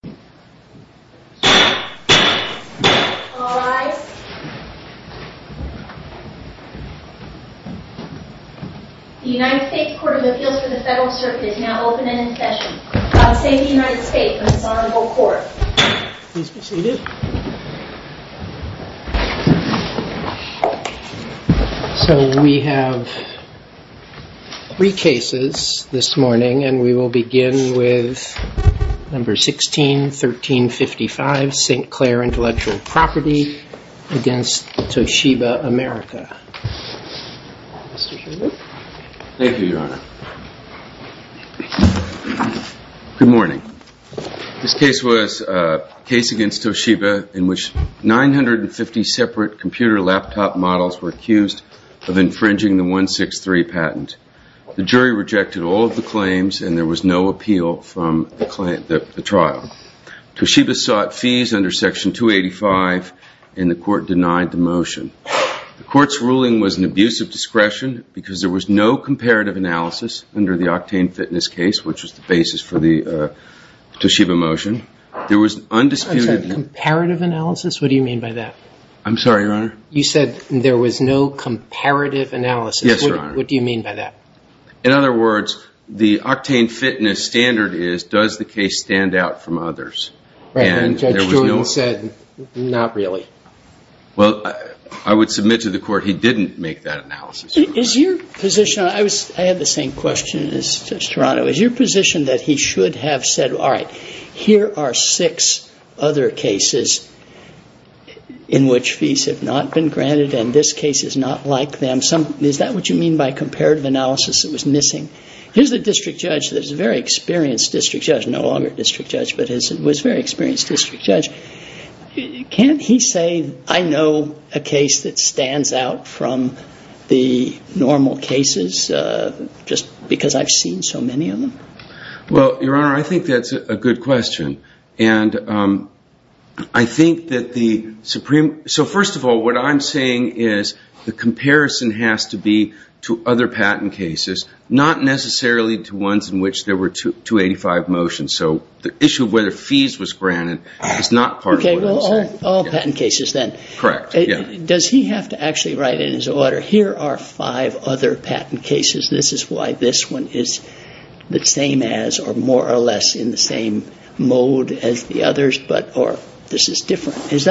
The United States Court of Appeals for the Federal Circuit is now open and in session. I'll say the United States in its Honorable Court. Please be seated. So we have three cases this morning, and we will begin with number 16, 1355, St. Clair Intellectual Property v. Toshiba America. Thank you, Your Honor. Good morning. This case was a case against Toshiba in which 950 separate computer laptop models were accused of infringing the 163 patent. The jury rejected all of the claims, and there was no appeal from the trial. Toshiba sought fees under Section 285, and the court denied the motion. The court's ruling was an abuse of discretion because there was no comparative analysis under the Octane Fitness case, which was the basis for the Toshiba motion. There was undisputed... I'm sorry. Comparative analysis? What do you mean by that? I'm sorry, Your Honor. You said there was no comparative analysis. Yes, Your Honor. What do you mean by that? In other words, the Octane Fitness standard is, does the case stand out from others? Right. And Judge Druin said, not really. Well, I would submit to the court he didn't make that analysis. Is your position... I had the same question as Judge Toronto. Is your position that he should have said, all right, here are six other cases in which fees have not been granted, and this case is not like them? Is that what you mean by comparative analysis that was missing? Here's the district judge that is a very experienced district judge, no longer district judge, but was a very experienced district judge. Can't he say, I know a case that stands out from the normal cases just because I've seen so many of them? Well, Your Honor, I think that's a good question. And I think that the Supreme... So first of all, what I'm saying is the comparison has to be to other patent cases, not necessarily to ones in which there were 285 motions. So the issue of whether fees was granted is not part of what I'm saying. Okay, well, all patent cases then. Correct, yeah. Does he have to actually write in his order, here are five other patent cases, this is why this one is the same as or more or less in the same mode as the others, or this is different? Does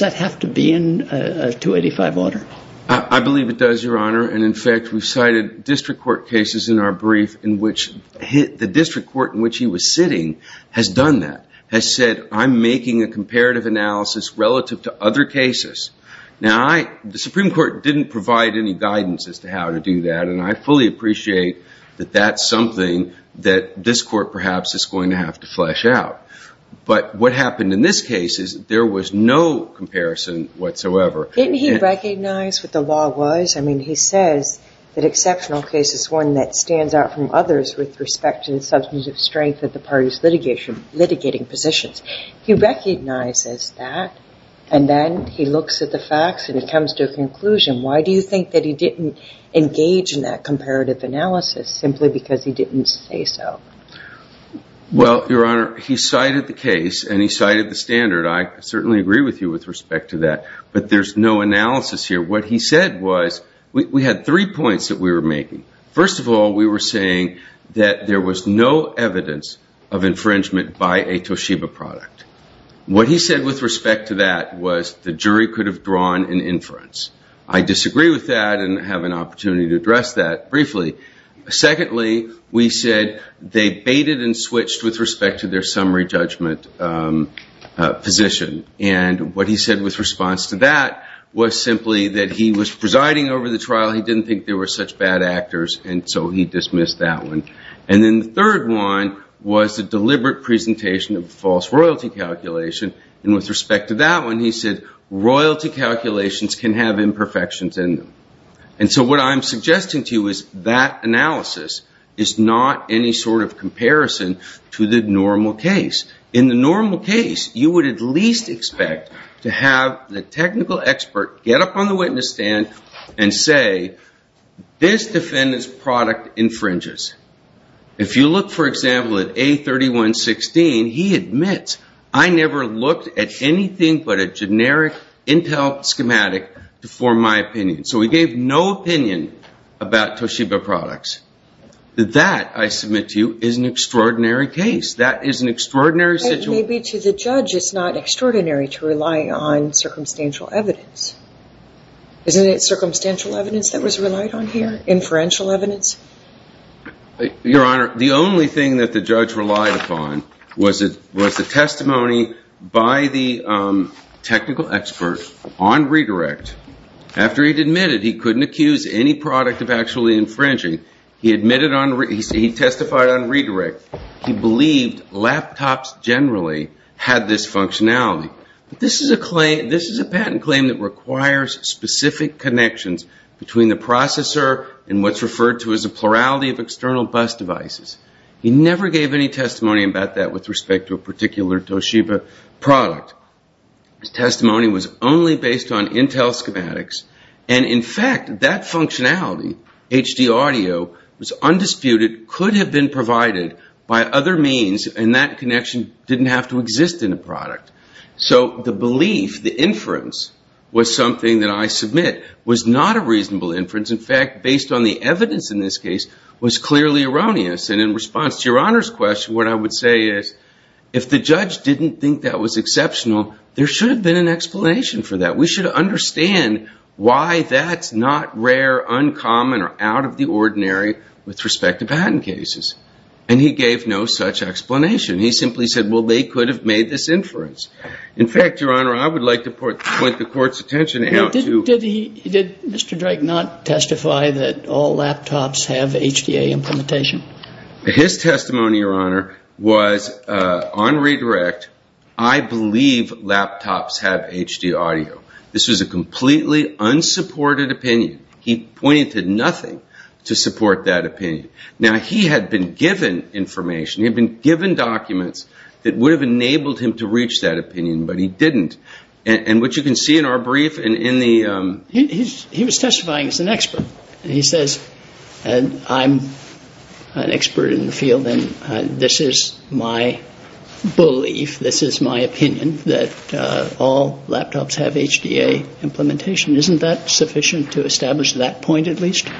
that have to be in a 285 order? I believe it does, Your Honor. And, in fact, we've cited district court cases in our brief in which the district court in which he was sitting has done that, has said, I'm making a comparative analysis relative to other cases. Now, the Supreme Court didn't provide any guidance as to how to do that, and I fully appreciate that that's something that this court perhaps is going to have to flesh out. But what happened in this case is there was no comparison whatsoever. Didn't he recognize what the law was? I mean, he says that exceptional case is one that stands out from others with respect to the substantive strength of the party's litigation, litigating positions. He recognizes that, and then he looks at the facts and he comes to a conclusion. Why do you think that he didn't engage in that comparative analysis simply because he didn't say so? Well, Your Honor, he cited the case and he cited the standard. I certainly agree with you with respect to that, but there's no analysis here. What he said was we had three points that we were making. First of all, we were saying that there was no evidence of infringement by a Toshiba product. What he said with respect to that was the jury could have drawn an inference. I disagree with that and have an opportunity to address that briefly. Secondly, we said they baited and switched with respect to their summary judgment position. And what he said with response to that was simply that he was presiding over the trial. He didn't think there were such bad actors, and so he dismissed that one. And then the third one was a deliberate presentation of false royalty calculation. And with respect to that one, he said royalty calculations can have imperfections in them. And so what I'm suggesting to you is that analysis is not any sort of comparison to the normal case. In the normal case, you would at least expect to have the technical expert get up on the witness stand and say, this defendant's product infringes. If you look, for example, at A3116, he admits, I never looked at anything but a generic intel schematic to form my opinion. So he gave no opinion about Toshiba products. That, I submit to you, is an extraordinary case. That is an extraordinary situation. Maybe to the judge it's not extraordinary to rely on circumstantial evidence. Isn't it circumstantial evidence that was relied on here, inferential evidence? Your Honor, the only thing that the judge relied upon was the testimony by the technical expert on redirect after he admitted he couldn't accuse any product of actually infringing. He testified on redirect. He believed laptops generally had this functionality. This is a patent claim that requires specific connections between the processor and what's referred to as a plurality of external bus devices. He never gave any testimony about that with respect to a particular Toshiba product. His testimony was only based on intel schematics, and in fact, that functionality, HD audio, was undisputed, could have been provided by other means, and that connection didn't have to exist in the product. So the belief, the inference, was something that I submit was not a reasonable inference. In fact, based on the evidence in this case, was clearly erroneous. And in response to Your Honor's question, what I would say is, if the judge didn't think that was exceptional, there should have been an explanation for that. We should understand why that's not rare, uncommon, or out of the ordinary with respect to patent cases. And he gave no such explanation. He simply said, well, they could have made this inference. In fact, Your Honor, I would like to point the Court's attention out to Did Mr. Drake not testify that all laptops have HDA implementation? His testimony, Your Honor, was on redirect, I believe laptops have HD audio. This was a completely unsupported opinion. He pointed to nothing to support that opinion. Now, he had been given information. He had been given documents that would have enabled him to reach that opinion, but he didn't. And what you can see in our brief and in the He was testifying as an expert. And he says, I'm an expert in the field, and this is my belief, this is my opinion, that all laptops have HDA implementation. Isn't that sufficient to establish that point, at least?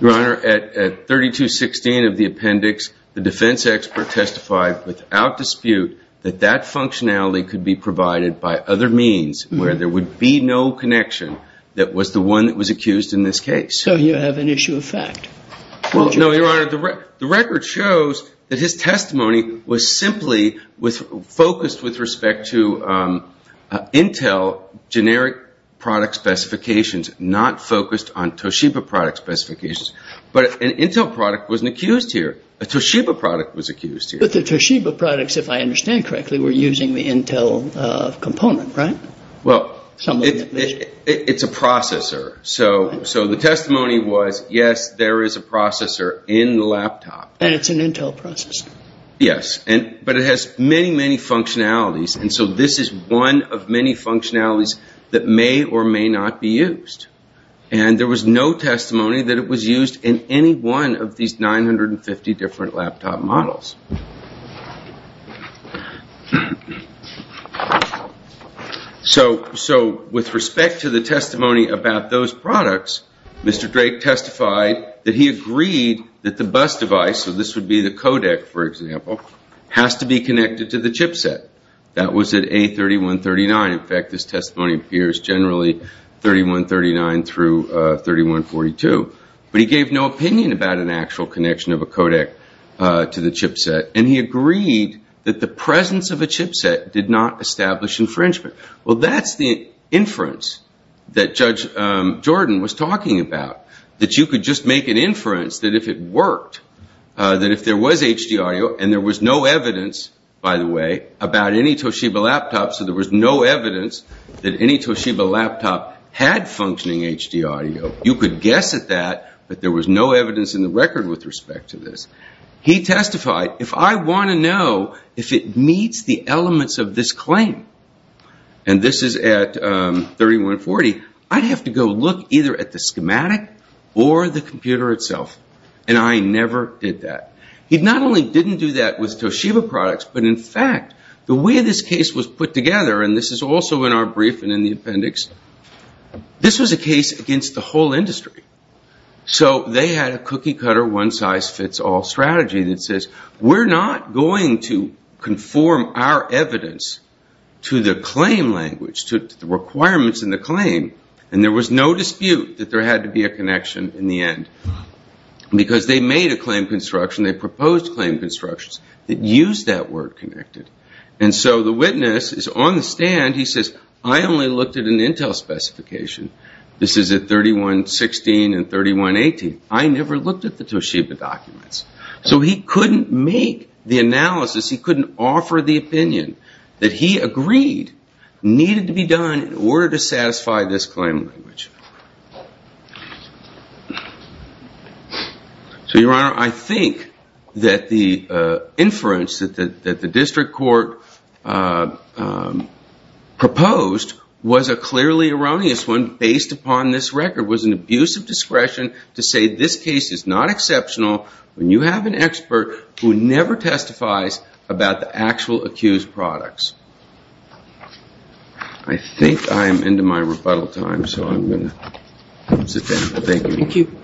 Your Honor, at 3216 of the appendix, the defense expert testified without dispute that that functionality could be provided by other means where there would be no connection that was the one that was accused in this case. So you have an issue of fact. No, Your Honor, the record shows that his testimony was simply focused with respect to Intel generic product specifications, not focused on Toshiba product specifications. But an Intel product wasn't accused here. A Toshiba product was accused here. But the Toshiba products, if I understand correctly, were using the Intel component, right? Well, it's a processor. So the testimony was, yes, there is a processor in the laptop. And it's an Intel processor. Yes, but it has many, many functionalities. And so this is one of many functionalities that may or may not be used. And there was no testimony that it was used in any one of these 950 different laptop models. So with respect to the testimony about those products, Mr. Drake testified that he agreed that the bus device, so this would be the codec, for example, has to be connected to the chipset. That was at A3139. In fact, this testimony appears generally 3139 through 3142. But he gave no opinion about an actual connection of a codec to the chipset. And he agreed that the presence of a chipset did not establish infringement. Well, that's the inference that Judge Jordan was talking about, that you could just make an inference that if it worked, that if there was HD audio and there was no evidence, by the way, about any Toshiba laptop, so there was no evidence that any Toshiba laptop had functioning HD audio, you could guess at that, but there was no evidence in the record with respect to this. He testified, if I want to know if it meets the elements of this claim, and this is at 3140, I'd have to go look either at the schematic or the computer itself. And I never did that. He not only didn't do that with Toshiba products, but in fact the way this case was put together, and this is also in our brief and in the appendix, this was a case against the whole industry. So they had a cookie-cutter, one-size-fits-all strategy that says, we're not going to conform our evidence to the claim language, to the requirements in the claim, and there was no dispute that there had to be a connection in the end because they made a claim construction, they proposed claim constructions, that used that word connected. And so the witness is on the stand, he says, I only looked at an Intel specification, this is at 3116 and 3118, I never looked at the Toshiba documents. So he couldn't make the analysis, he couldn't offer the opinion that he agreed needed to be done in order to satisfy this claim language. So, Your Honor, I think that the inference that the district court proposed was a clearly erroneous one based upon this record, was an abuse of discretion to say this case is not exceptional when you have an expert who never testifies about the actual accused products. I think I'm into my rebuttal time, so I'm going to sit down. Thank you.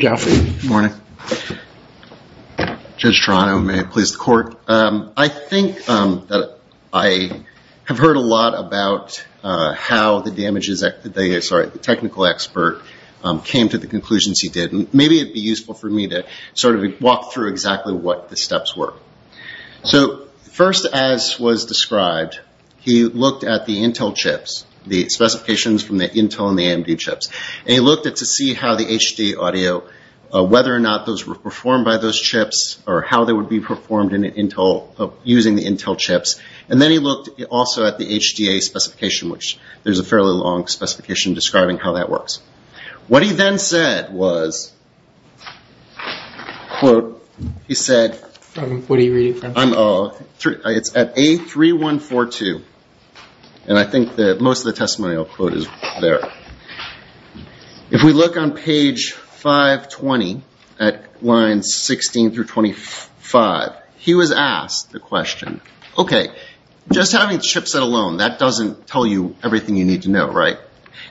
Good morning. Judge Toronto, may it please the court. I think that I have heard a lot about how the technical expert came to the conclusions he did. Maybe it would be useful for me to walk through exactly what the steps were. So first, as was described, he looked at the Intel chips, the specifications from the Intel and the AMD chips, and he looked to see how the HD audio, whether or not those were performed by those chips, or how they would be performed using the Intel chips. And then he looked also at the HDA specification, which there's a fairly long specification describing how that works. What he then said was, quote, he said, What are you reading from? It's at A3142, and I think most of the testimonial quote is there. If we look on page 520 at lines 16 through 25, he was asked the question, Okay, just having the chip set alone, that doesn't tell you everything you need to know, right?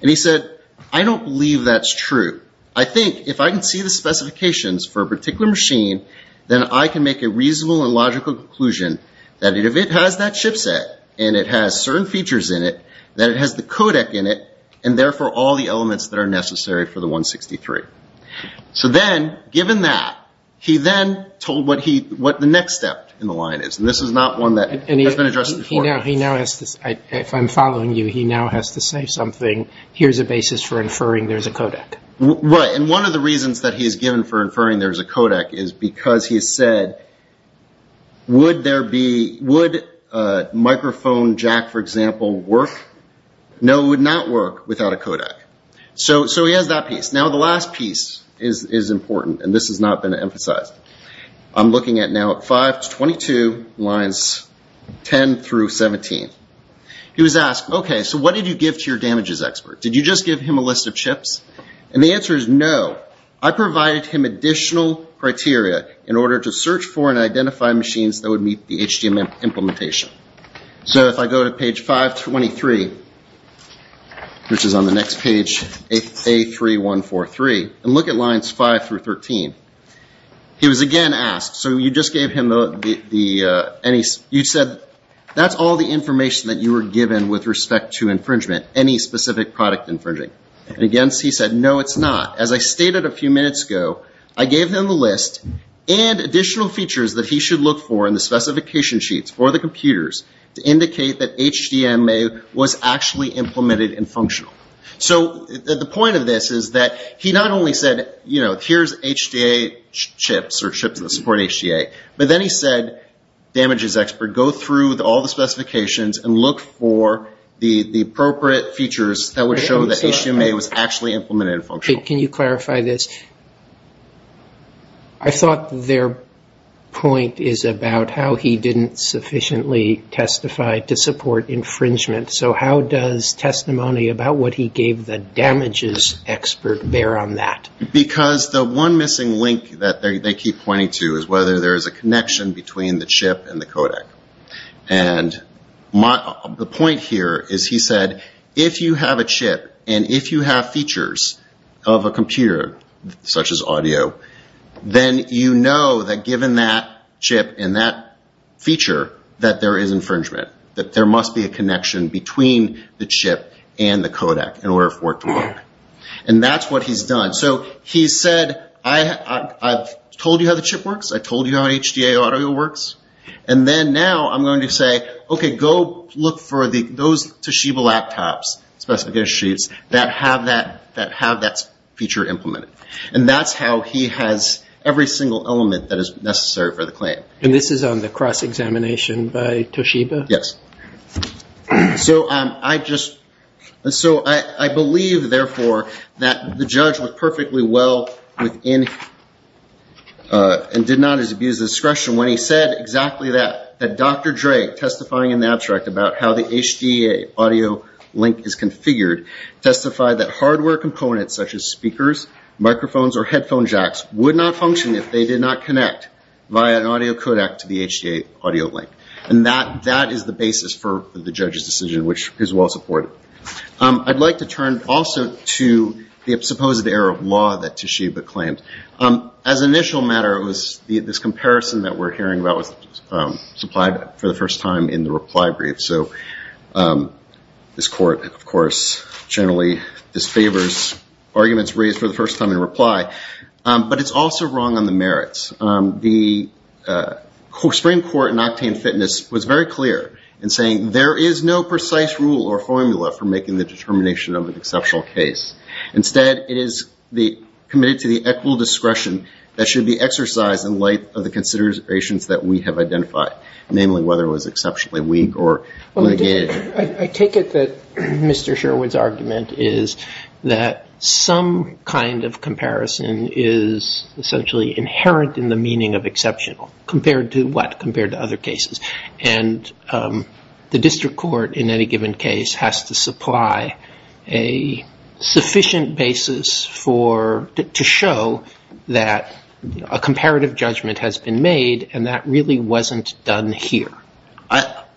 And he said, I don't believe that's true. I think if I can see the specifications for a particular machine, then I can make a reasonable and logical conclusion that if it has that chip set, and it has certain features in it, that it has the codec in it, and therefore all the elements that are necessary for the 163. So then, given that, he then told what the next step in the line is, and this is not one that has been addressed before. If I'm following you, he now has to say something. Here's a basis for inferring there's a codec. Right, and one of the reasons that he's given for inferring there's a codec is because he said, Would microphone jack, for example, work? No, it would not work without a codec. So he has that piece. Now the last piece is important, and this has not been emphasized. I'm looking at now at 522 lines 10 through 17. He was asked, Okay, so what did you give to your damages expert? Did you just give him a list of chips? And the answer is no. I provided him additional criteria in order to search for and identify machines that would meet the HDM implementation. So if I go to page 523, which is on the next page, A3143, and look at lines 5 through 13. He was again asked, So you just gave him the, you said, That's all the information that you were given with respect to infringement, any specific product infringing. And again, he said, No, it's not. As I stated a few minutes ago, I gave him the list and additional features that he should look for in the specification sheets for the computers to indicate that HDMA was actually implemented and functional. So the point of this is that he not only said, Here's HDA chips or chips that support HDA, but then he said, Damages expert, go through all the specifications and look for the appropriate features that would show that HDMA was actually implemented and functional. Can you clarify this? I thought their point is about how he didn't sufficiently testify to support infringement. So how does testimony about what he gave the damages expert bear on that? Because the one missing link that they keep pointing to is whether there is a connection between the chip and the codec. And the point here is he said, If you have a chip and if you have features of a computer, such as audio, then you know that given that chip and that feature, that there is infringement. That there must be a connection between the chip and the codec in order for it to work. And that's what he's done. So he said, I've told you how the chip works. I've told you how HDA audio works. And then now I'm going to say, Okay, go look for those Toshiba laptops, specifications that have that feature implemented. And that's how he has every single element that is necessary for the claim. And this is on the cross-examination by Toshiba? Yes. So I believe, therefore, that the judge was perfectly well within and did not abuse discretion when he said exactly that, that Dr. Dre, testifying in the abstract about how the HDA audio link is configured, testified that hardware components, such as speakers, microphones, or headphone jacks, would not function if they did not connect via an audio codec to the HDA audio link. And that is the basis for the judge's decision, which is well supported. I'd like to turn also to the supposed error of law that Toshiba claimed. As an initial matter, this comparison that we're hearing about was supplied for the first time in the reply brief. So this court, of course, generally disfavors arguments raised for the first time in reply. But it's also wrong on the merits. The Supreme Court in Octane Fitness was very clear in saying there is no precise rule or formula for making the determination of an exceptional case. Instead, it is committed to the equal discretion that should be exercised in light of the considerations that we have identified, namely whether it was exceptionally weak or mitigated. I take it that Mr. Sherwood's argument is that some kind of comparison is essentially inherent in the meaning of exceptional, compared to what, compared to other cases. And the district court in any given case has to supply a sufficient basis to show that a comparative judgment has been made, and that really wasn't done here.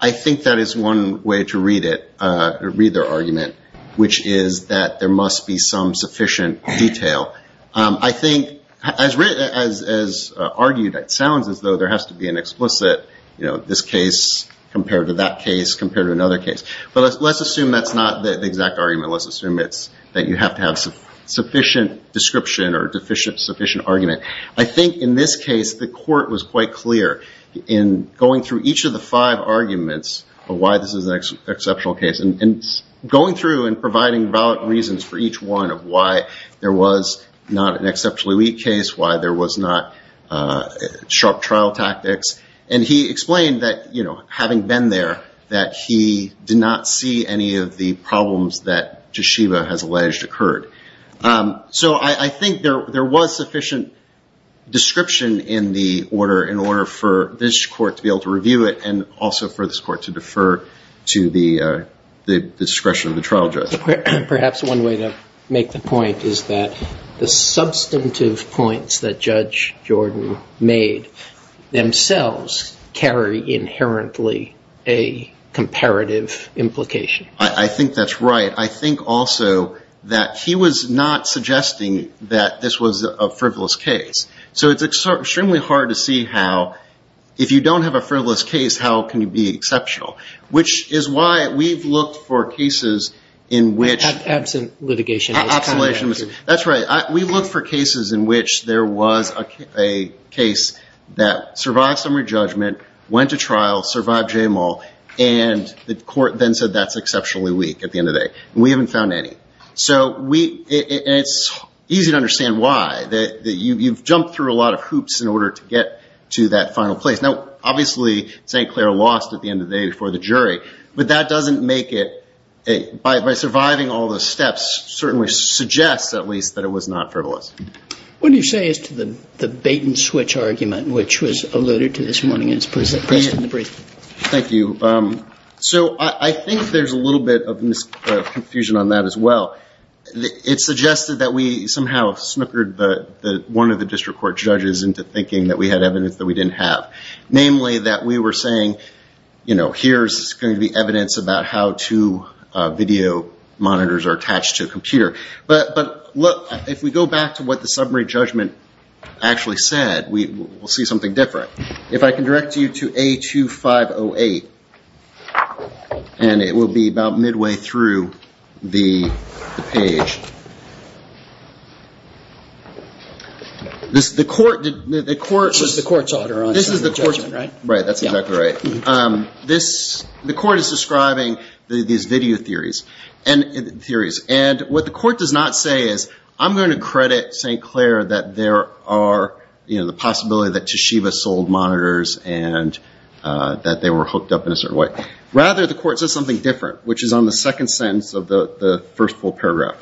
I think that is one way to read it, or read their argument, which is that there must be some sufficient detail. I think, as argued, it sounds as though there has to be an explicit, this case compared to that case compared to another case. But let's assume that's not the exact argument. Let's assume that you have to have sufficient description or sufficient argument. I think in this case, the court was quite clear in going through each of the five arguments of why this is an exceptional case, and going through and providing valid reasons for each one of why there was not an exceptionally weak case, why there was not sharp trial tactics. And he explained that, having been there, that he did not see any of the problems that Toshiba has alleged occurred. So I think there was sufficient description in the order for this court to be able to review it, and also for this court to defer to the discretion of the trial judge. Perhaps one way to make the point is that the substantive points that Judge Jordan made themselves carry inherently a comparative implication. I think that's right. I think also that he was not suggesting that this was a frivolous case. So it's extremely hard to see how, if you don't have a frivolous case, how can you be exceptional, which is why we've looked for cases in which- Absent litigation. Absent litigation. That's right. We looked for cases in which there was a case that survived summary judgment, went to trial, survived JML, and the court then said that's exceptionally weak at the end of the day. And we haven't found any. And it's easy to understand why. You've jumped through a lot of hoops in order to get to that final place. Now, obviously St. Clair lost at the end of the day before the jury, but that doesn't make it- by surviving all the steps certainly suggests, at least, that it was not frivolous. What do you say as to the bait-and-switch argument, which was alluded to this morning? Thank you. So I think there's a little bit of confusion on that as well. It suggested that we somehow snickered one of the district court judges into thinking that we had evidence that we didn't have, namely that we were saying, you know, here's going to be evidence about how two video monitors are attached to a computer. But, look, if we go back to what the summary judgment actually said, we'll see something different. If I can direct you to A2508, and it will be about midway through the page. The court- This is the court's order on summary judgment, right? Right, that's exactly right. The court is describing these video theories. And what the court does not say is, I'm going to credit St. Clair that there are, you know, the possibility that Toshiba sold monitors and that they were hooked up in a certain way. Rather, the court says something different, which is on the second sentence of the first full paragraph.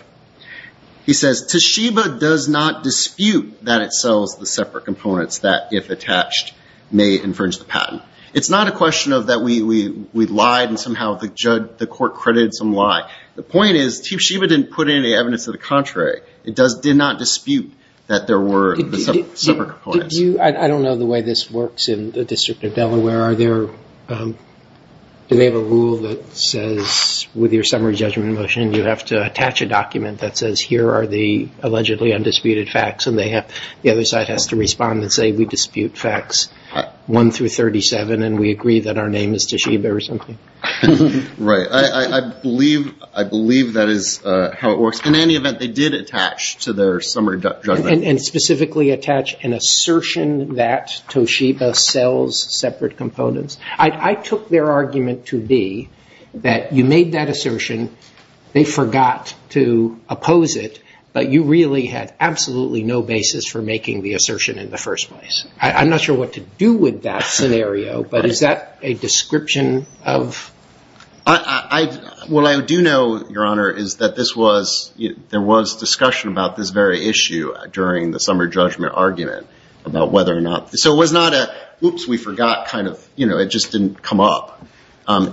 He says, Toshiba does not dispute that it sells the separate components that, if attached, may infringe the patent. It's not a question of that we lied and somehow the court credited some lie. The point is, Toshiba didn't put any evidence to the contrary. It did not dispute that there were separate components. I don't know the way this works in the District of Delaware. Are there- do they have a rule that says, with your summary judgment motion, you have to attach a document that says, here are the allegedly undisputed facts, and the other side has to respond and say we dispute facts 1 through 37 and we agree that our name is Toshiba or something? Right. I believe that is how it works. In any event, they did attach to their summary judgment- And specifically attach an assertion that Toshiba sells separate components. I took their argument to be that you made that assertion, they forgot to oppose it, but you really had absolutely no basis for making the assertion in the first place. I'm not sure what to do with that scenario, but is that a description of- What I do know, Your Honor, is that this was- there was discussion about this very issue during the summary judgment argument about whether or not- So it was not a, oops, we forgot, kind of, you know, it just didn't come up.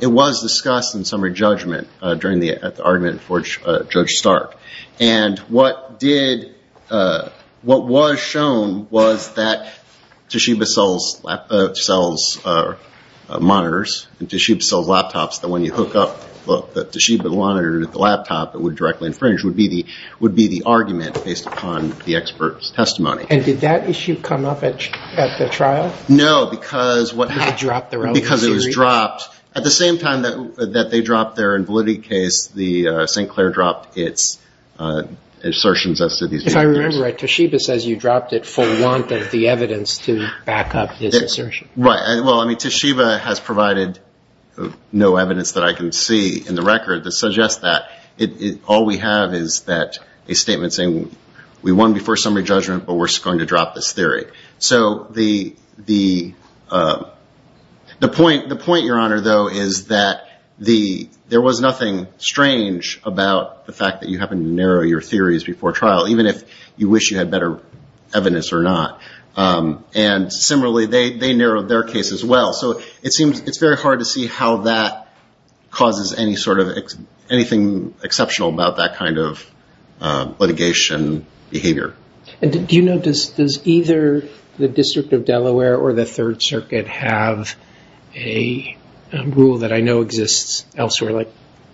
It was discussed in summary judgment during the argument for Judge Stark. And what did- what was shown was that Toshiba sells monitors, and Toshiba sells laptops that when you hook up, look, that Toshiba monitored the laptop, it would directly infringe, would be the argument based upon the expert's testimony. And did that issue come up at the trial? No, because what- They dropped their own- Because it was dropped. At the same time that they dropped their invalidity case, St. Clair dropped its assertions as to these- If I remember right, Toshiba says you dropped it for want of the evidence to back up his assertion. Well, I mean, Toshiba has provided no evidence that I can see in the record that suggests that. All we have is that- a statement saying we won before summary judgment, but we're just going to drop this theory. So the point, Your Honor, though, is that there was nothing strange about the fact that you happened to narrow your theories before trial, even if you wish you had better evidence or not. And similarly, they narrowed their case as well. So it seems- it's very hard to see how that causes any sort of- anything exceptional about that kind of litigation behavior. Do you know- does either the District of Delaware or the Third Circuit have a rule that I know exists elsewhere, like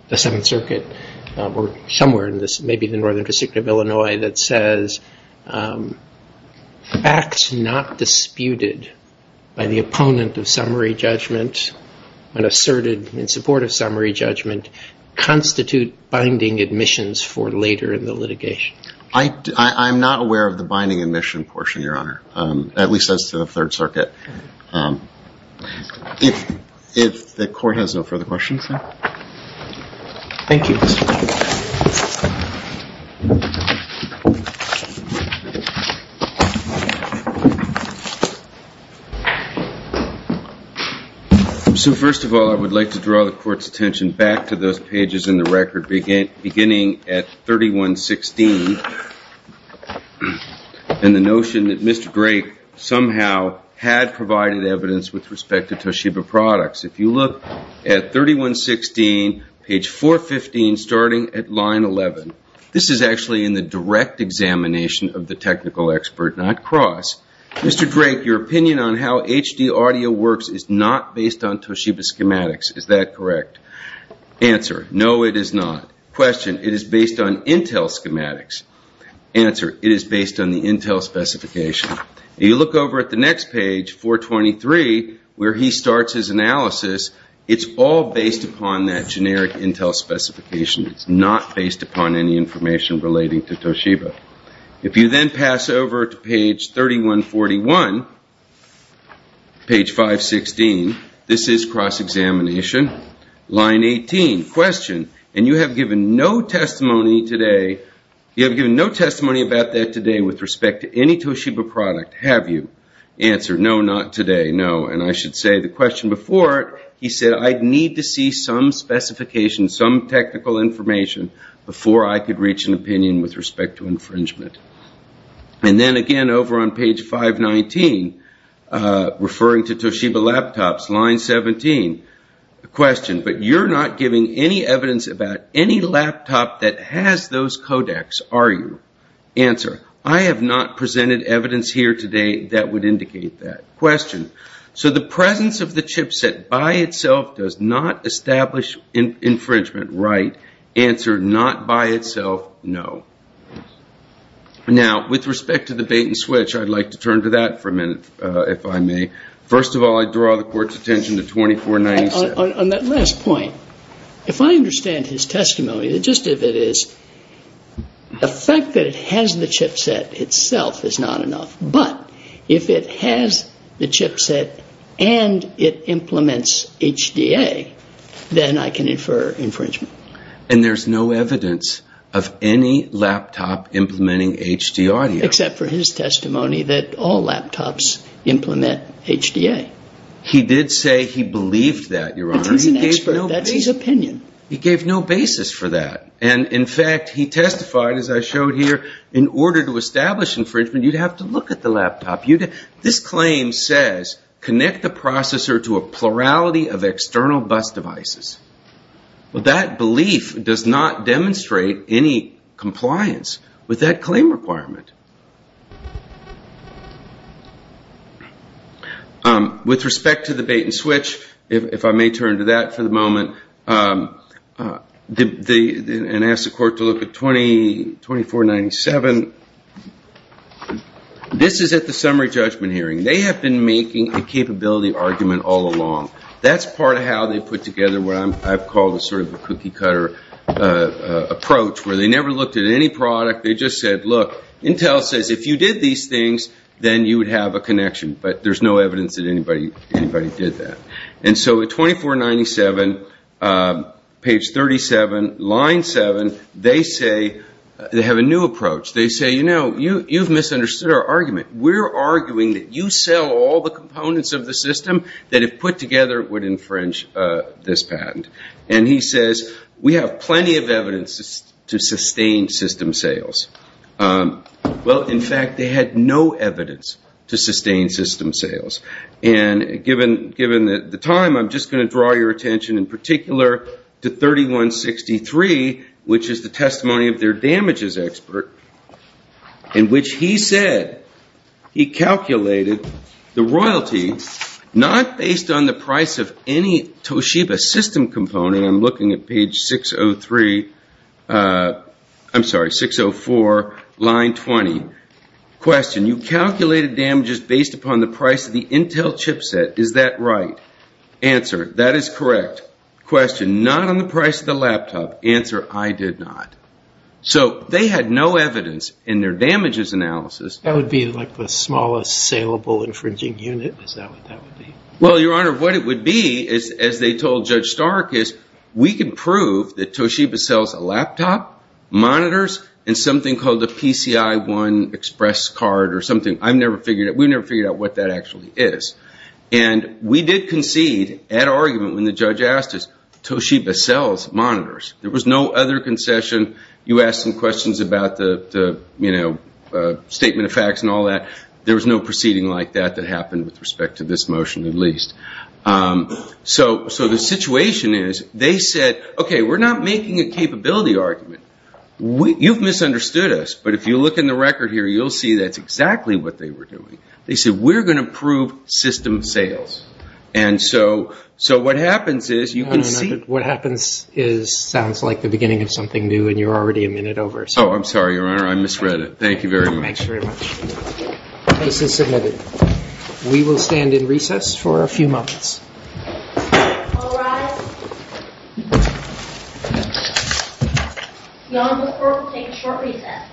the Seventh Circuit, or somewhere in this- maybe the Northern District of Illinois, that says facts not disputed by the opponent of summary judgment and asserted in support of summary judgment constitute binding admissions for later in the litigation? I'm not aware of the binding admission portion, Your Honor, at least as to the Third Circuit. If the Court has no further questions. Thank you. So first of all, I would like to draw the Court's attention back to those pages in the record, beginning at 3116, and the notion that Mr. Drake somehow had provided evidence with respect to Toshiba products. If you look at 3116, page 415, starting at line 11, this is actually in the direct examination of the technical expert, not Cross. Mr. Drake, your opinion on how HD audio works is not based on Toshiba schematics. Is that correct? Answer, no, it is not. Question, it is based on Intel schematics. Answer, it is based on the Intel specification. If you look over at the next page, 423, where he starts his analysis, it's all based upon that generic Intel specification. It's not based upon any information relating to Toshiba. If you then pass over to page 3141, page 516, this is cross-examination. Line 18, question, and you have given no testimony today, you have given no testimony about that today with respect to any Toshiba product, have you? Answer, no, not today, no. And I should say the question before it, he said, I need to see some specification, some technical information, before I could reach an opinion with respect to infringement. And then again over on page 519, referring to Toshiba laptops, line 17, question, but you're not giving any evidence about any laptop that has those codecs, are you? Answer, I have not presented evidence here today that would indicate that. Question, so the presence of the chipset by itself does not establish infringement, right? Answer, not by itself, no. Now, with respect to the bait and switch, I'd like to turn to that for a minute, if I may. First of all, I draw the Court's attention to 2497. On that last point, if I understand his testimony, just if it is, the fact that it has the chipset itself is not enough, but if it has the chipset and it implements HDA, then I can infer infringement. And there's no evidence of any laptop implementing HDA. Except for his testimony that all laptops implement HDA. He did say he believed that, Your Honor. But he's an expert. That's his opinion. He gave no basis for that. And in fact, he testified, as I showed here, in order to establish infringement, you'd have to look at the laptop. This claim says, connect the processor to a plurality of external bus devices. Well, that belief does not demonstrate any compliance with that claim requirement. With respect to the bait and switch, if I may turn to that for the moment, and ask the Court to look at 2497, this is at the summary judgment hearing. They have been making a capability argument all along. That's part of how they put together what I've called sort of a cookie-cutter approach, where they never looked at any product. They just said, look, Intel says if you did these things, then you would have a connection. But there's no evidence that anybody did that. And so at 2497, page 37, line 7, they have a new approach. We're arguing that you sell all the components of the system that if put together would infringe this patent. And he says, we have plenty of evidence to sustain system sales. Well, in fact, they had no evidence to sustain system sales. And given the time, I'm just going to draw your attention in particular to 3163, which is the testimony of their damages expert, in which he said he calculated the royalty, not based on the price of any Toshiba system component. I'm looking at page 603, I'm sorry, 604, line 20. Question, you calculated damages based upon the price of the Intel chipset. Is that right? Answer, that is correct. Question, not on the price of the laptop. Answer, I did not. So they had no evidence in their damages analysis. That would be like the smallest saleable infringing unit? Is that what that would be? Well, Your Honor, what it would be, as they told Judge Stark, is we can prove that Toshiba sells a laptop, monitors, and something called a PCI-1 express card or something. I've never figured it. We've never figured out what that actually is. And we did concede at argument when the judge asked us, Toshiba sells monitors. There was no other concession. You asked some questions about the statement of facts and all that. There was no proceeding like that that happened with respect to this motion at least. So the situation is they said, okay, we're not making a capability argument. You've misunderstood us, but if you look in the record here, you'll see that's exactly what they were doing. They said, we're going to prove system sales. And so what happens is you can see. What happens sounds like the beginning of something new, and you're already a minute over. Oh, I'm sorry, Your Honor. I misread it. Thank you very much. Thanks very much. Case is submitted. We will stand in recess for a few moments. All rise. Your Honor, this court will take a short recess.